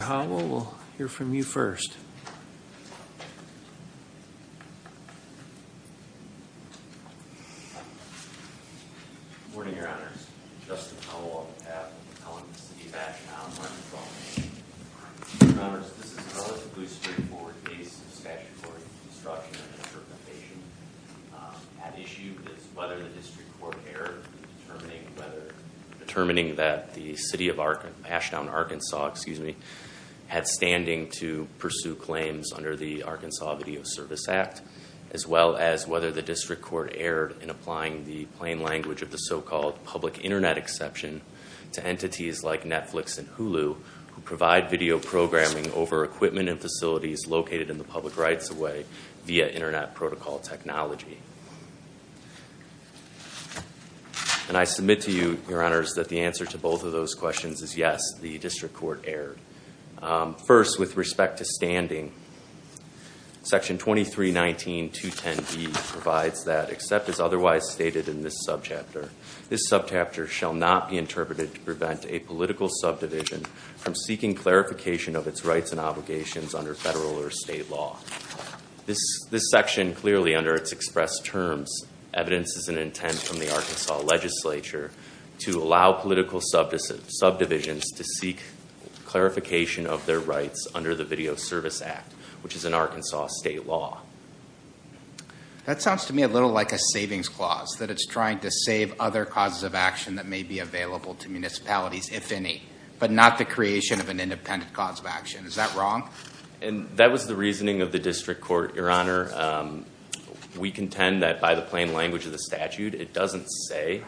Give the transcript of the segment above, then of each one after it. We'll hear from you first. Good morning, Your Honors. Justin Howell on behalf of the City of Ashdown, Arkansas. Your Honors, this is a relatively straightforward case of statutory obstruction of interpretation. At issue is whether the District Court erred in determining that the City of Ashdown, Arkansas had standing to pursue claims under the Arkansas Video Service Act, as well as whether the District Court erred in applying the plain language of the so-called public internet exception to entities like Netflix and Hulu, who provide video programming over equipment and facilities located in the public rights of way via internet protocol technology. And I submit to you, Your Honors, that the answer to both of those questions is yes, the District Court erred. First, with respect to standing, Section 2319.210B provides that, except as otherwise stated in this subchapter, this subchapter shall not be interpreted to prevent a political subdivision from seeking clarification of its rights and obligations under federal or state law. This section clearly, under its expressed terms, evidences an intent from the Arkansas Legislature to allow political subdivisions to seek clarification of their rights under the Video Service Act, which is an Arkansas state law. That sounds to me a little like a savings clause, that it's trying to save other causes of action that may be available to municipalities, if any, but not the creation of an independent cause of action. Is that wrong? That was the reasoning of the District Court, Your Honor. We contend that by the plain language of the statute, it doesn't say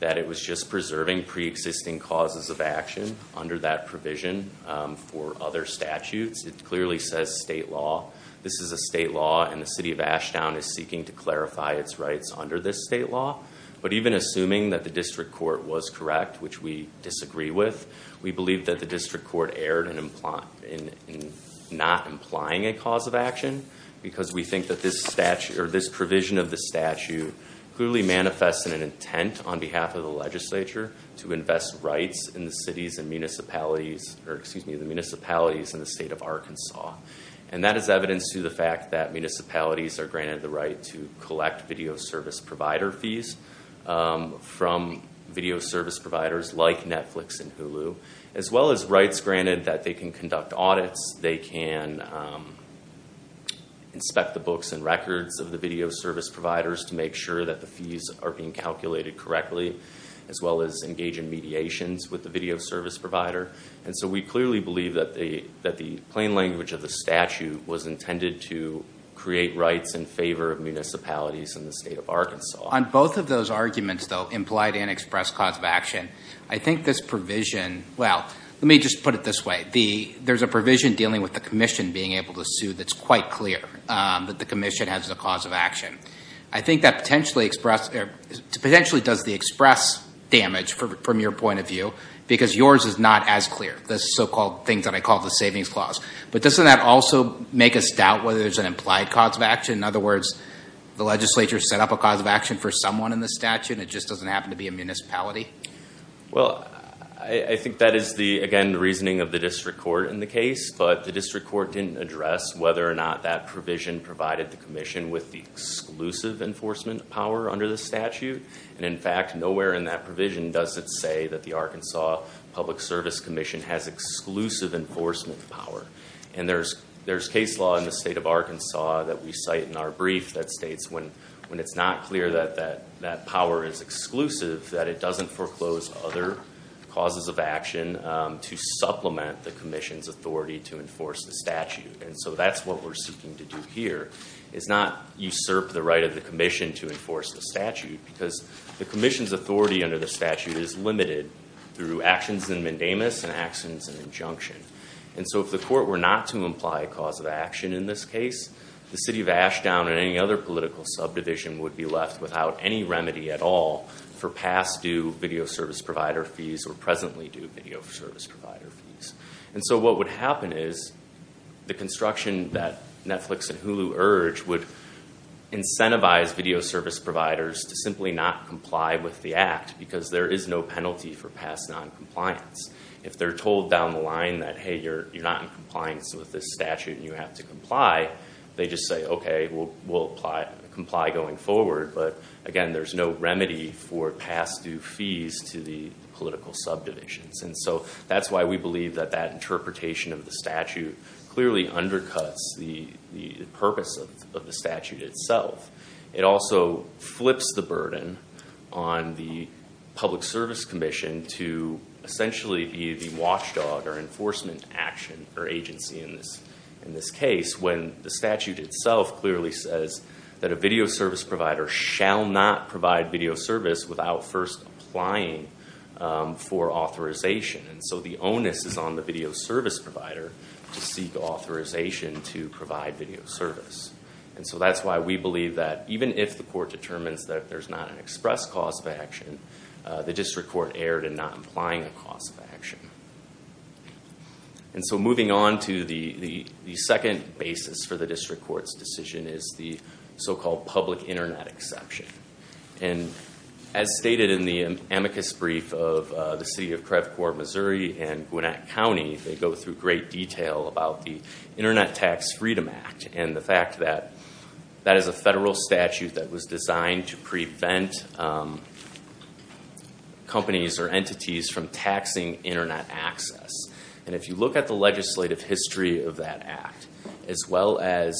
that it was just preserving pre-existing causes of action under that provision for other statutes. It clearly says state law. This is a state law, and the City of Ashtown is seeking to clarify its rights under this state law. But even assuming that the District Court was correct, which we disagree with, we believe that the District Court erred in not implying a cause of action because we think that this provision of the statute clearly manifests an intent on behalf of the Legislature to invest rights in the municipalities in the state of Arkansas. And that is evidence to the fact that municipalities are granted the right to collect video service provider fees from video service providers like Netflix and Hulu, as well as rights granted that they can conduct audits, they can inspect the books and records of the video service providers to make sure that the fees are being calculated correctly, as well as engage in mediations with the video service provider. And so we clearly believe that the plain language of the statute was intended to create rights in favor of municipalities in the state of Arkansas. On both of those arguments, though, implied and expressed cause of action, I think this provision, well, let me just put it this way. There's a provision dealing with the commission being able to sue that's quite clear that the commission has a cause of action. I think that potentially does the express damage from your point of view because yours is not as clear, the so-called things that I call the savings clause. But doesn't that also make us doubt whether there's an implied cause of action? In other words, the Legislature set up a cause of action for someone in the statute and it just doesn't happen to be a municipality? Well, I think that is, again, the reasoning of the district court in the case. But the district court didn't address whether or not that provision provided the commission with the exclusive enforcement power under the statute. And, in fact, nowhere in that provision does it say that the Arkansas Public Service Commission has exclusive enforcement power. And there's case law in the state of Arkansas that we cite in our brief that states when it's not clear that that power is exclusive, that it doesn't foreclose other causes of action to supplement the commission's authority to enforce the statute. And so that's what we're seeking to do here, is not usurp the right of the commission to enforce the statute because the commission's authority under the statute is limited through actions in mandamus and actions in injunction. And so if the court were not to imply a cause of action in this case, the city of Ashdown and any other political subdivision would be left without any remedy at all for past due video service provider fees or presently due video service provider fees. And so what would happen is the construction that Netflix and Hulu urge would incentivize video service providers to simply not comply with the act because there is no penalty for past noncompliance. If they're told down the line that, hey, you're not in compliance with this statute and you have to comply, they just say, okay, we'll comply going forward. But again, there's no remedy for past due fees to the political subdivisions. And so that's why we believe that that interpretation of the statute clearly undercuts the purpose of the statute itself. It also flips the burden on the Public Service Commission to essentially be the watchdog or enforcement action or agency in this case when the statute itself clearly says that a video service provider shall not provide video service without first applying for authorization. And so the onus is on the video service provider to seek authorization to provide video service. And so that's why we believe that even if the court determines that there's not an express cause of action, the district court erred in not implying a cause of action. And so moving on to the second basis for the district court's decision is the so-called public Internet exception. And as stated in the amicus brief of the city of Crevecourt, Missouri, and Gwinnett County, they go through great detail about the Internet Tax Freedom Act and the fact that that is a federal statute that was designed to prevent companies or entities from taxing Internet access. And if you look at the legislative history of that act, as well as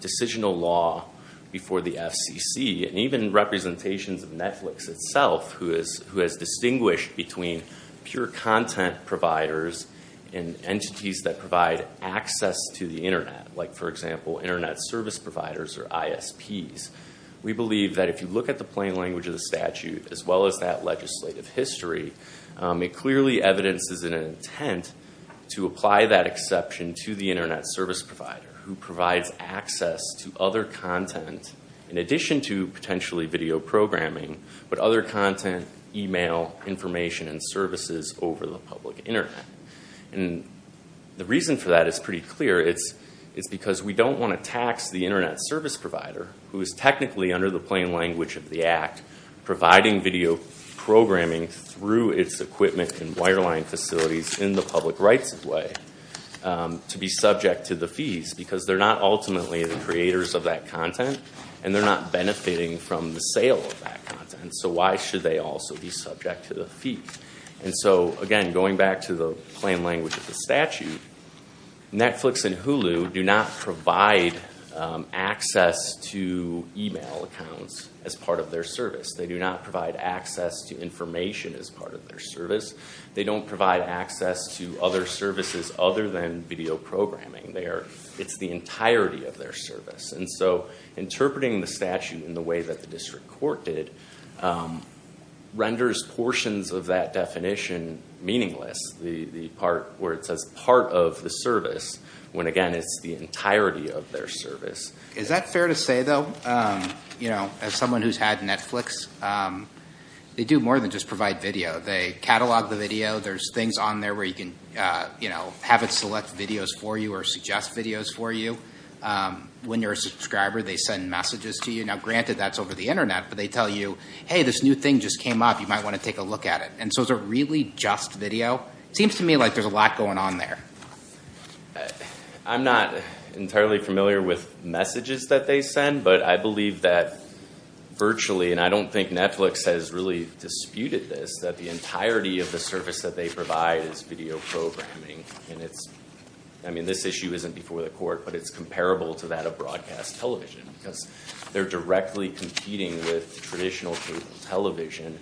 decisional law before the FCC, and even representations of Netflix itself, who has distinguished between pure content providers and entities that provide access to the Internet, like, for example, Internet service providers or ISPs, we believe that if you look at the plain language of the statute, as well as that legislative history, it clearly evidences an intent to apply that exception to the Internet service provider who provides access to other content, in addition to potentially video programming, but other content, email, information, and services over the public Internet. And the reason for that is pretty clear. It's because we don't want to tax the Internet service provider, who is technically under the plain language of the act, providing video programming through its equipment and wireline facilities in the public rights way, to be subject to the fees because they're not ultimately the creators of that content and they're not benefiting from the sale of that content. So why should they also be subject to the fees? And so, again, going back to the plain language of the statute, Netflix and Hulu do not provide access to email accounts as part of their service. They do not provide access to information as part of their service. They don't provide access to other services other than video programming. It's the entirety of their service. And so interpreting the statute in the way that the district court did renders portions of that definition meaningless, where it says part of the service, when, again, it's the entirety of their service. Is that fair to say, though, as someone who's had Netflix, they do more than just provide video. They catalog the video. There's things on there where you can have it select videos for you or suggest videos for you. When you're a subscriber, they send messages to you. Now, granted, that's over the Internet, but they tell you, hey, this new thing just came up. You might want to take a look at it. And so is it really just video? It seems to me like there's a lot going on there. I'm not entirely familiar with messages that they send, but I believe that virtually, and I don't think Netflix has really disputed this, that the entirety of the service that they provide is video programming. I mean, this issue isn't before the court, but it's comparable to that of broadcast television, because they're directly competing with traditional cable television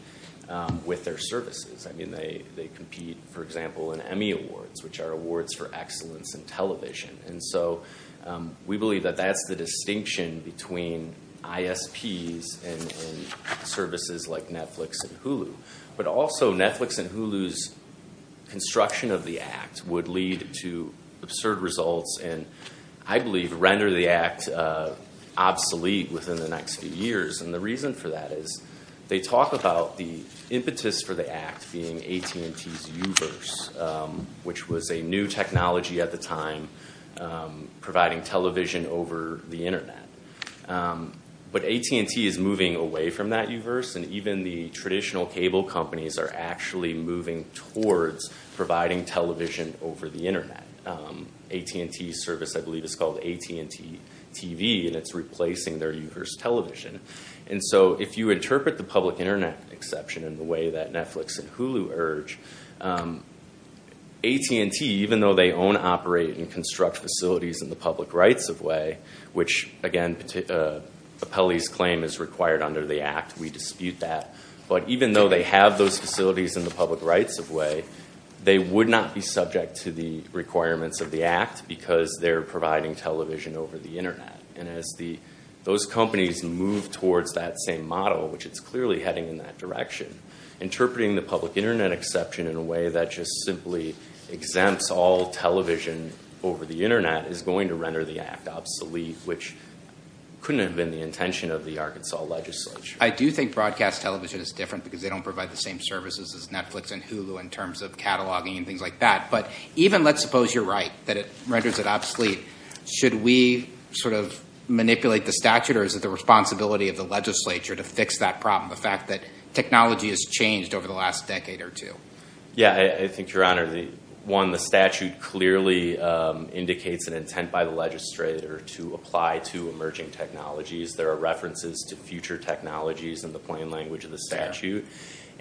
with their services. I mean, they compete, for example, in Emmy Awards, which are awards for excellence in television. And so we believe that that's the distinction between ISPs and services like Netflix and Hulu. But also, Netflix and Hulu's construction of the Act would lead to absurd results and, I believe, render the Act obsolete within the next few years. And the reason for that is they talk about the impetus for the Act being AT&T's U-verse, which was a new technology at the time providing television over the Internet. But AT&T is moving away from that U-verse, and even the traditional cable companies are actually moving towards providing television over the Internet. AT&T's service, I believe, is called AT&T TV, and it's replacing their U-verse television. And so if you interpret the public Internet exception in the way that Netflix and Hulu urge, AT&T, even though they own, operate, and construct facilities in the public rights-of-way, which, again, Apelli's claim is required under the Act. We dispute that. But even though they have those facilities in the public rights-of-way, they would not be subject to the requirements of the Act because they're providing television over the Internet. And as those companies move towards that same model, which it's clearly heading in that direction, interpreting the public Internet exception in a way that just simply exempts all television over the Internet is going to render the Act obsolete, which couldn't have been the intention of the Arkansas legislature. I do think broadcast television is different because they don't provide the same services as Netflix and Hulu in terms of cataloging and things like that. But even let's suppose you're right, that it renders it obsolete. Should we sort of manipulate the statute, or is it the responsibility of the legislature to fix that problem, the fact that technology has changed over the last decade or two? Yeah, I think, Your Honor, one, the statute clearly indicates an intent by the legislator to apply to emerging technologies. There are references to future technologies in the plain language of the statute.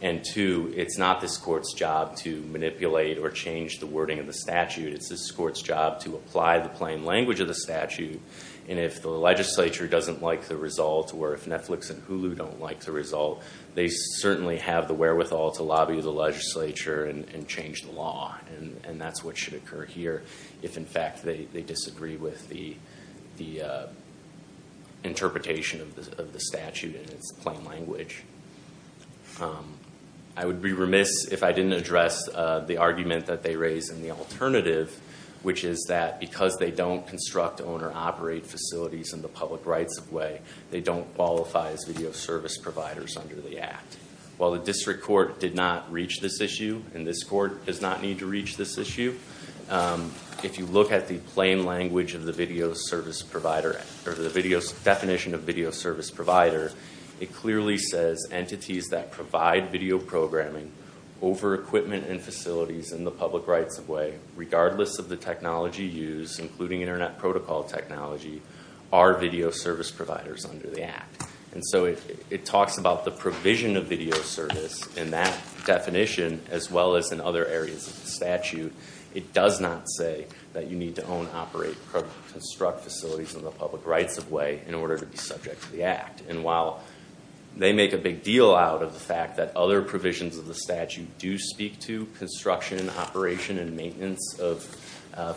And two, it's not this court's job to manipulate or change the wording of the statute. It's this court's job to apply the plain language of the statute. And if the legislature doesn't like the result, or if Netflix and Hulu don't like the result, they certainly have the wherewithal to lobby the legislature and change the law. And that's what should occur here if, in fact, they disagree with the interpretation of the statute in its plain language. I would be remiss if I didn't address the argument that they raised in the alternative, which is that because they don't construct, own, or operate facilities in the public rights way, they don't qualify as video service providers under the act. While the district court did not reach this issue, and this court does not need to reach this issue, if you look at the plain language of the definition of video service provider, it clearly says entities that provide video programming over equipment and facilities in the public rights way, regardless of the technology used, including internet protocol technology, are video service providers under the act. And so it talks about the provision of video service in that definition, as well as in other areas of the statute. It does not say that you need to own, operate, or construct facilities in the public rights way in order to be subject to the act. And while they make a big deal out of the fact that other provisions of the statute do speak to construction, operation, and maintenance of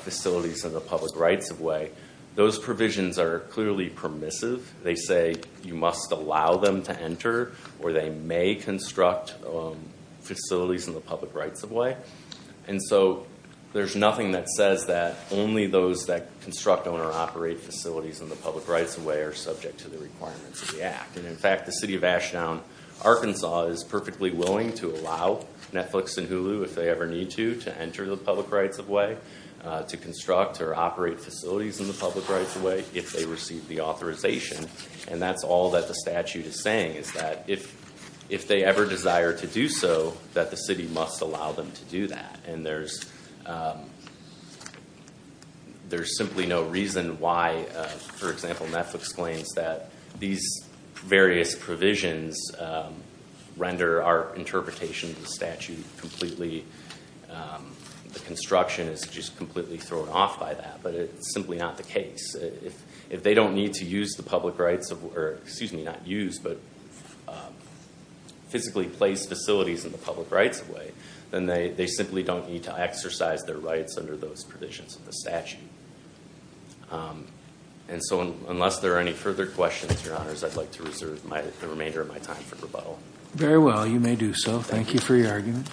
facilities in the public rights way, those provisions are clearly permissive. They say you must allow them to enter, or they may construct facilities in the public rights way. And so there's nothing that says that only those that construct, own, or operate facilities in the public rights way are subject to the requirements of the act. And in fact, the city of Ashdown, Arkansas is perfectly willing to allow Netflix and Hulu, if they ever need to, to enter the public rights way, to construct or operate facilities in the public rights way if they receive the authorization. And that's all that the statute is saying, is that if they ever desire to do so, that the city must allow them to do that. And there's simply no reason why, for example, Netflix claims that these various provisions render our interpretation of the statute completely. The construction is just completely thrown off by that, but it's simply not the case. If they don't need to use the public rights, or excuse me, not use, but physically place facilities in the public rights way, then they simply don't need to exercise their rights under those provisions of the statute. And so unless there are any further questions, Your Honors, I'd like to reserve the remainder of my time for rebuttal. Very well, you may do so. Thank you for your argument.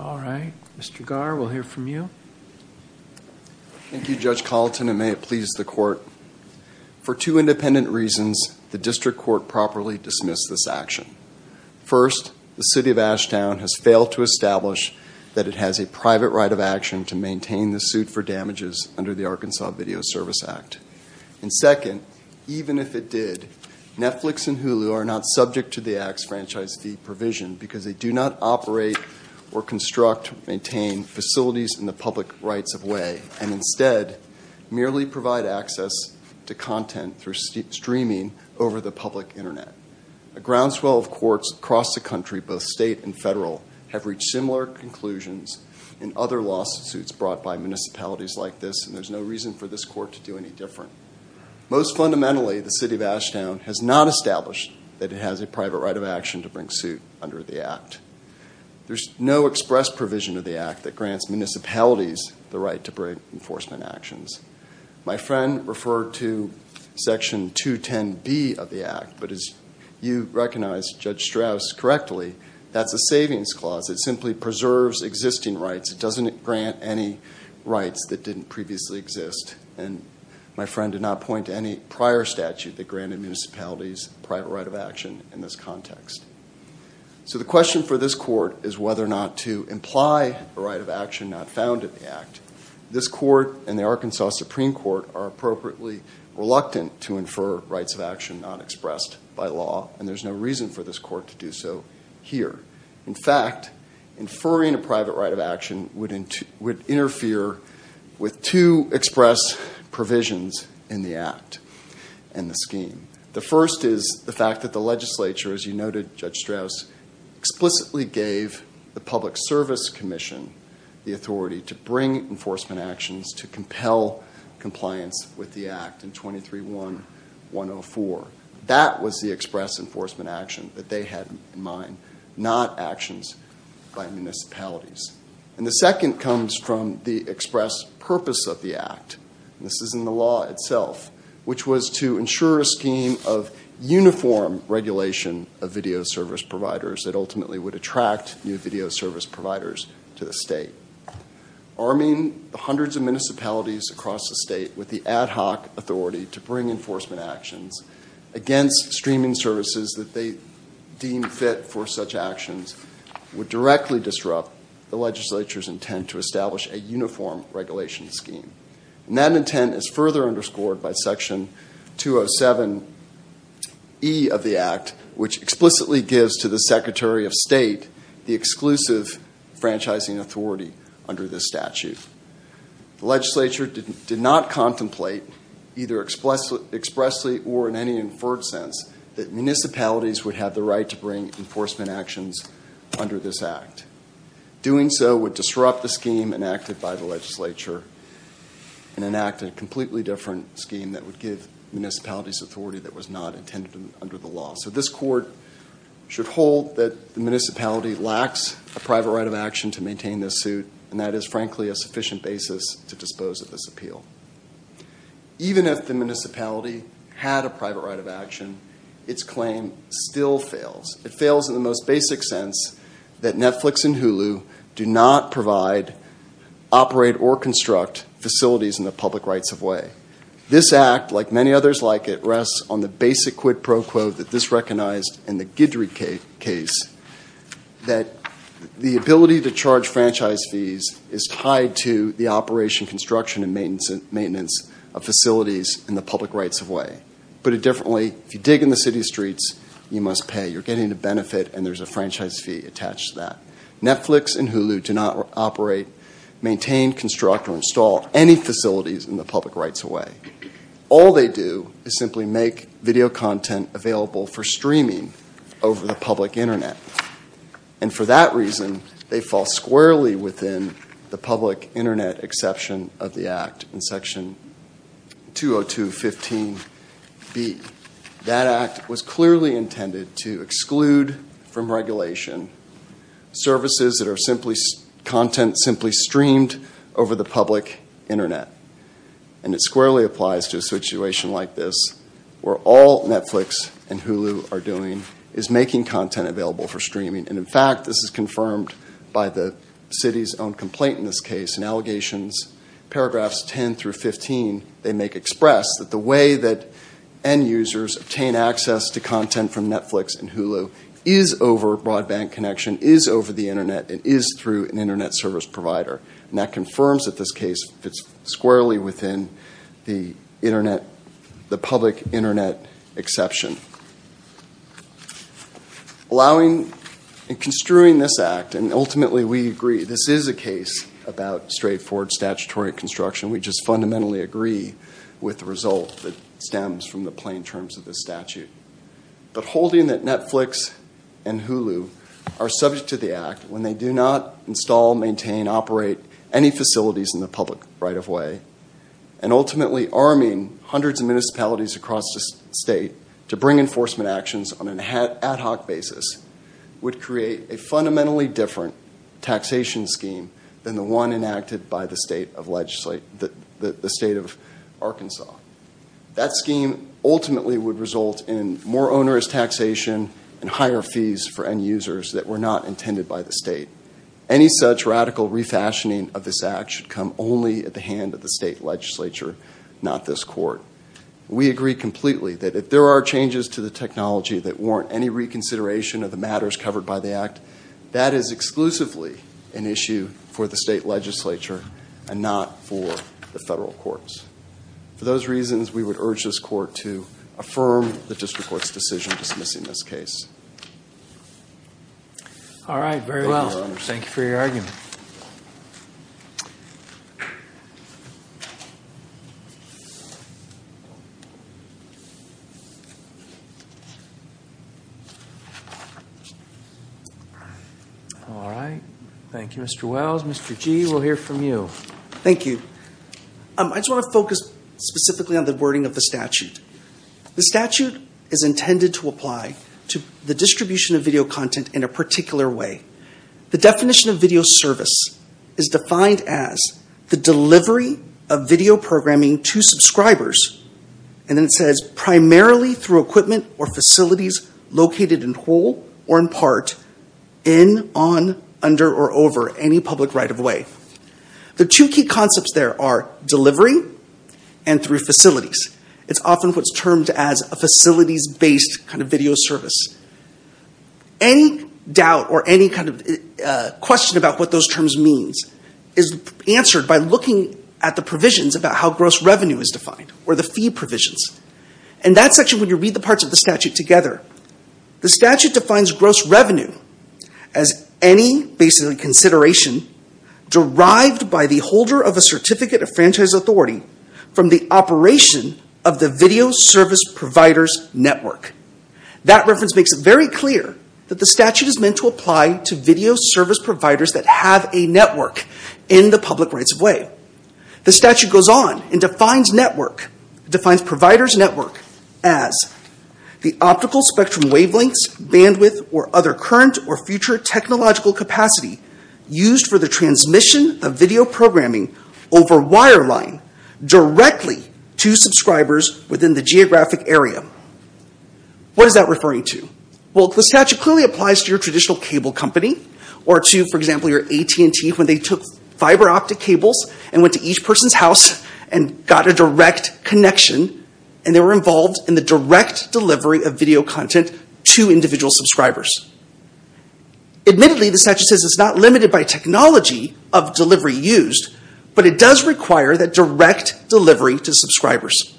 All right, Mr. Garr, we'll hear from you. Thank you, Judge Colleton, and may it please the court. For two independent reasons, the district court properly dismissed this action. First, the city of Ashtown has failed to establish that it has a private right of action to maintain the suit for damages under the Arkansas Video Service Act. And second, even if it did, Netflix and Hulu are not subject to the Act's franchise fee provision because they do not operate or construct, maintain facilities in the public rights of way, and instead merely provide access to content through streaming over the public Internet. A groundswell of courts across the country, both state and federal, have reached similar conclusions in other lawsuits brought by municipalities like this, and there's no reason for this court to do any different. Most fundamentally, the city of Ashtown has not established that it has a private right of action to bring suit under the Act. There's no express provision of the Act that grants municipalities the right to bring enforcement actions. My friend referred to Section 210B of the Act, but as you recognize, Judge Strauss, correctly, that's a savings clause. It simply preserves existing rights. It doesn't grant any rights that didn't previously exist. And my friend did not point to any prior statute that granted municipalities a private right of action in this context. So the question for this court is whether or not to imply a right of action not found in the Act. This court and the Arkansas Supreme Court are appropriately reluctant to infer rights of action not expressed by law, and there's no reason for this court to do so here. In fact, inferring a private right of action would interfere with two express provisions in the Act and the scheme. The first is the fact that the legislature, as you noted, Judge Strauss, explicitly gave the Public Service Commission the authority to bring enforcement actions to compel compliance with the Act in 23-1-104. That was the express enforcement action that they had in mind, not actions by municipalities. And the second comes from the express purpose of the Act, and this is in the law itself, which was to ensure a scheme of uniform regulation of video service providers that ultimately would attract new video service providers to the state. Arming the hundreds of municipalities across the state with the ad hoc authority to bring enforcement actions against streaming services that they deem fit for such actions would directly disrupt the legislature's intent to establish a uniform regulation scheme. And that intent is further underscored by Section 207E of the Act, which explicitly gives to the Secretary of State the exclusive franchising authority under this statute. The legislature did not contemplate, either expressly or in any inferred sense, that municipalities would have the right to bring enforcement actions under this Act. Doing so would disrupt the scheme enacted by the legislature and enact a completely different scheme that would give municipalities authority that was not intended under the law. So this Court should hold that the municipality lacks a private right of action to maintain this suit, and that is frankly a sufficient basis to dispose of this appeal. Even if the municipality had a private right of action, its claim still fails. It fails in the most basic sense that Netflix and Hulu do not provide, operate, or construct facilities in the public rights of way. This Act, like many others like it, rests on the basic quid pro quo that this recognized in the Guidry case, that the ability to charge franchise fees is tied to the operation, construction, and maintenance of facilities in the public rights of way. Put it differently, if you dig in the city streets, you must pay. You're getting a benefit, and there's a franchise fee attached to that. Netflix and Hulu do not operate, maintain, construct, or install any facilities in the public rights of way. All they do is simply make video content available for streaming over the public Internet. And for that reason, they fall squarely within the public Internet exception of the Act in Section 202.15b. That Act was clearly intended to exclude from regulation services that are content simply streamed over the public Internet. And it squarely applies to a situation like this, where all Netflix and Hulu are doing is making content available for streaming. And in fact, this is confirmed by the city's own complaint in this case. Paragraphs 10 through 15, they make express that the way that end users obtain access to content from Netflix and Hulu is over broadband connection, is over the Internet, and is through an Internet service provider. And that confirms that this case fits squarely within the public Internet exception. Allowing and construing this Act, and ultimately we agree, this is a case about straightforward statutory construction. We just fundamentally agree with the result that stems from the plain terms of the statute. But holding that Netflix and Hulu are subject to the Act when they do not install, maintain, operate any facilities in the public right of way, and ultimately arming hundreds of municipalities across the state to bring enforcement actions on an ad hoc basis, would create a fundamentally different taxation scheme than the one enacted by the state of Arkansas. That scheme ultimately would result in more onerous taxation and higher fees for end users that were not intended by the state. Any such radical refashioning of this Act should come only at the hand of the state legislature, not this court. We agree completely that if there are changes to the technology that warrant any reconsideration of the matters covered by the Act, that is exclusively an issue for the state legislature and not for the federal courts. For those reasons, we would urge this court to affirm the district court's decision dismissing this case. All right. Very well. Thank you for your argument. All right. Thank you, Mr. Wells. Mr. Gee, we'll hear from you. Thank you. I just want to focus specifically on the wording of the statute. The statute is intended to apply to the distribution of video content in a particular way. The definition of video service is defined as the delivery of video programming to subscribers, and then it says primarily through equipment or facilities located in whole or in part, in, on, under, or over any public right of way. The two key concepts there are delivery and through facilities. It's often what's termed as a facilities-based kind of video service. Any doubt or any kind of question about what those terms mean is answered by looking at the provisions about how gross revenue is defined, or the fee provisions. In that section, when you read the parts of the statute together, the statute defines gross revenue as any, basically, consideration derived by the holder of a certificate of franchise authority from the operation of the video service provider's network. That reference makes it very clear that the statute is meant to apply to video service providers that have a network in the public rights of way. The statute goes on and defines network, defines provider's network as the optical spectrum wavelengths, bandwidth, or other current or future technological capacity used for the transmission of video programming over wire line directly to subscribers within the geographic area. What is that referring to? Well, the statute clearly applies to your traditional cable company, or to, for example, your AT&T, when they took fiber optic cables and went to each person's house and got a direct connection, and they were involved in the direct delivery of video content to individual subscribers. Admittedly, the statute says it's not limited by technology of delivery used, but it does require that direct delivery to subscribers.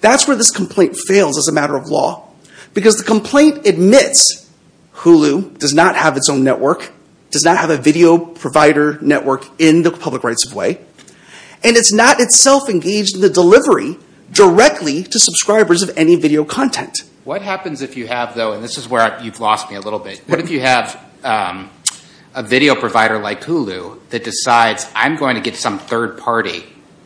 That's where this complaint fails as a matter of law, because the complaint admits Hulu does not have its own network, does not have a video provider network in the public rights of way, and it's not itself engaged in the delivery directly to subscribers of any video content. What happens if you have, though, and this is where you've lost me a little bit, what if you have a video provider like Hulu that decides I'm going to get some third party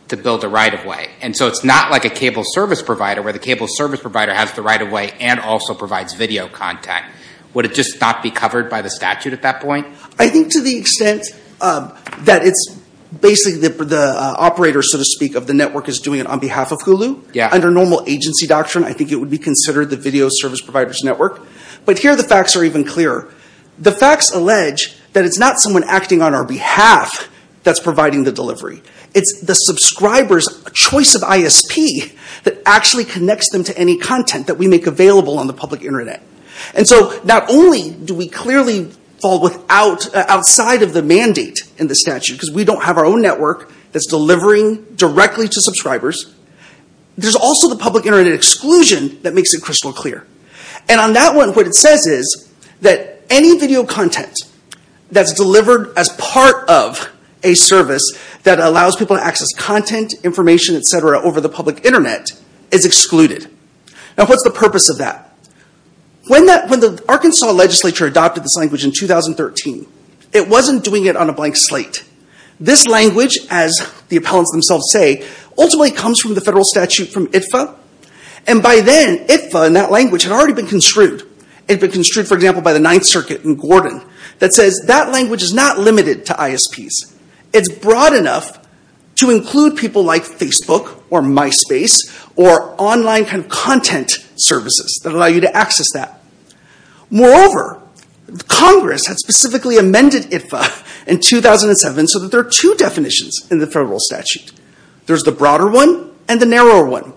to build a right-of-way, and so it's not like a cable service provider where the cable service provider has the right-of-way and also provides video content? Would it just not be covered by the statute at that point? I think to the extent that it's basically the operator, so to speak, of the network is doing it on behalf of Hulu, under normal agency doctrine, I think it would be considered the video service provider's network. But here the facts are even clearer. The facts allege that it's not someone acting on our behalf that's providing the delivery. It's the subscriber's choice of ISP that actually connects them to any content that we make available on the public Internet. And so not only do we clearly fall outside of the mandate in the statute, because we don't have our own network that's delivering directly to subscribers, there's also the public Internet exclusion that makes it crystal clear. And on that one, what it says is that any video content that's delivered as part of a service that allows people to access content, information, etc. over the public Internet is excluded. Now what's the purpose of that? When the Arkansas legislature adopted this language in 2013, it wasn't doing it on a blank slate. This language, as the appellants themselves say, ultimately comes from the federal statute from ITFA, and by then ITFA and that language had already been construed. It had been construed, for example, by the Ninth Circuit in Gordon that says that language is not limited to ISPs. It's broad enough to include people like Facebook or MySpace or online content services that allow you to access that. Moreover, Congress had specifically amended ITFA in 2007 so that there are two definitions in the federal statute. There's the broader one and the narrower one.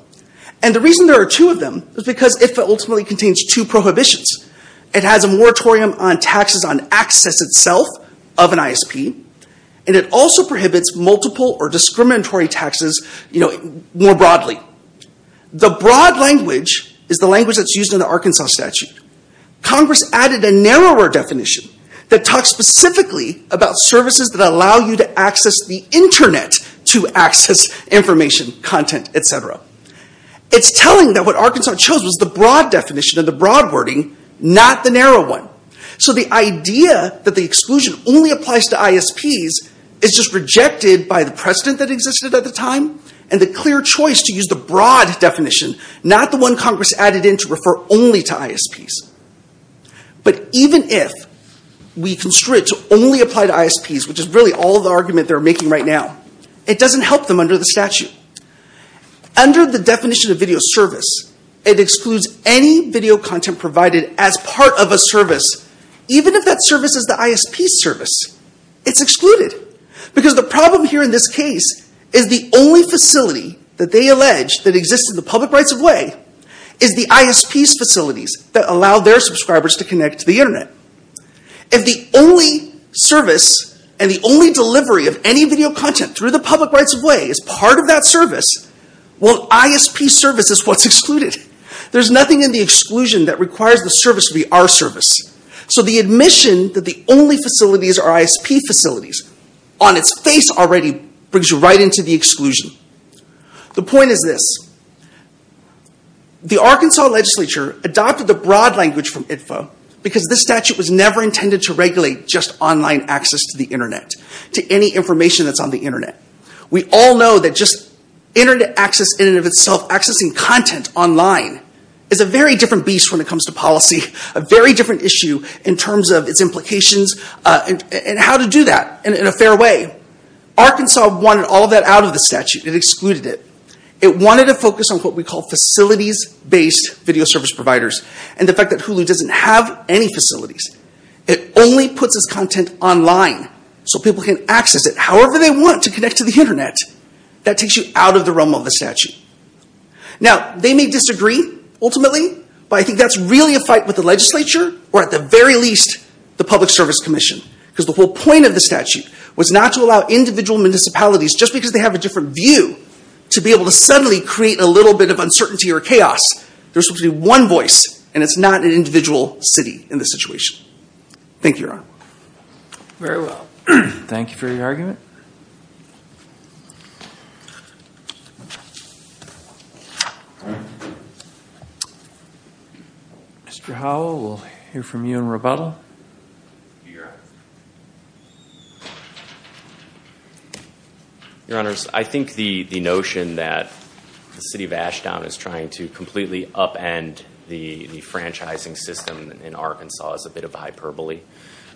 And the reason there are two of them is because ITFA ultimately contains two prohibitions. It has a moratorium on taxes on access itself of an ISP, and it also prohibits multiple or discriminatory taxes more broadly. The broad language is the language that's used in the Arkansas statute. Congress added a narrower definition that talks specifically about services that allow you to access the Internet to access information, content, etc. It's telling that what Arkansas chose was the broad definition and the broad wording, not the narrow one. So the idea that the exclusion only applies to ISPs is just rejected by the precedent that existed at the time and the clear choice to use the broad definition, not the one Congress added in to refer only to ISPs. But even if we construe it to only apply to ISPs, which is really all the argument they're making right now, it doesn't help them under the statute. Under the definition of video service, it excludes any video content provided as part of a service, even if that service is the ISP's service. It's excluded because the problem here in this case is the only facility that they allege that exists in the public rights of way is the ISP's facilities that allow their subscribers to connect to the Internet. If the only service and the only delivery of any video content through the public rights of way is part of that service, well, ISP's service is what's excluded. There's nothing in the exclusion that requires the service to be our service. So the admission that the only facilities are ISP facilities, on its face already, brings you right into the exclusion. The point is this. The Arkansas legislature adopted the broad language from ITFA because this statute was never intended to regulate just online access to the Internet. To any information that's on the Internet. We all know that just Internet access in and of itself, accessing content online, is a very different beast when it comes to policy. A very different issue in terms of its implications and how to do that in a fair way. Arkansas wanted all that out of the statute. It excluded it. It wanted to focus on what we call facilities-based video service providers. And the fact that Hulu doesn't have any facilities. It only puts its content online so people can access it however they want to connect to the Internet. That takes you out of the realm of the statute. Now, they may disagree, ultimately, but I think that's really a fight with the legislature, or at the very least, the Public Service Commission. Because the whole point of the statute was not to allow individual municipalities, just because they have a different view, to be able to suddenly create a little bit of uncertainty or chaos. There's supposed to be one voice, and it's not an individual city in this situation. Thank you, Your Honor. Very well. Thank you for your argument. Mr. Howell, we'll hear from you in rebuttal. Your Honor, I think the notion that the city of Ashdown is trying to completely upend the franchising system in Arkansas is a bit of hyperbole.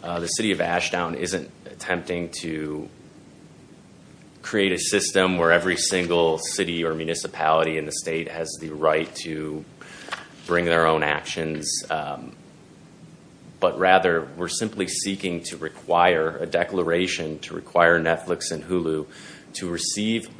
The city of Ashdown isn't attempting to create a system where every single city or municipality in the state has the right to bring their own actions. But rather, we're simply seeking to require a declaration to require Netflix and Hulu to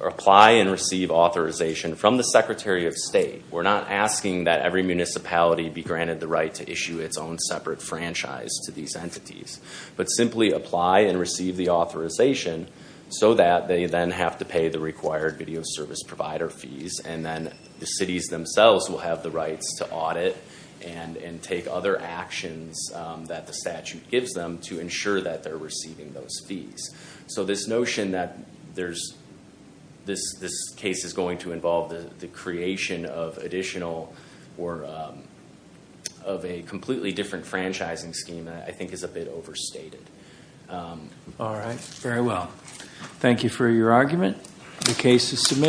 apply and receive authorization from the Secretary of State. We're not asking that every municipality be granted the right to issue its own separate franchise to these entities. But simply apply and receive the authorization so that they then have to pay the required video service provider fees. And then the cities themselves will have the rights to audit and take other actions that the statute gives them to ensure that they're receiving those fees. So this notion that this case is going to involve the creation of a completely different franchising scheme, I think is a bit overstated. All right. Very well. Thank you for your argument. The case is submitted.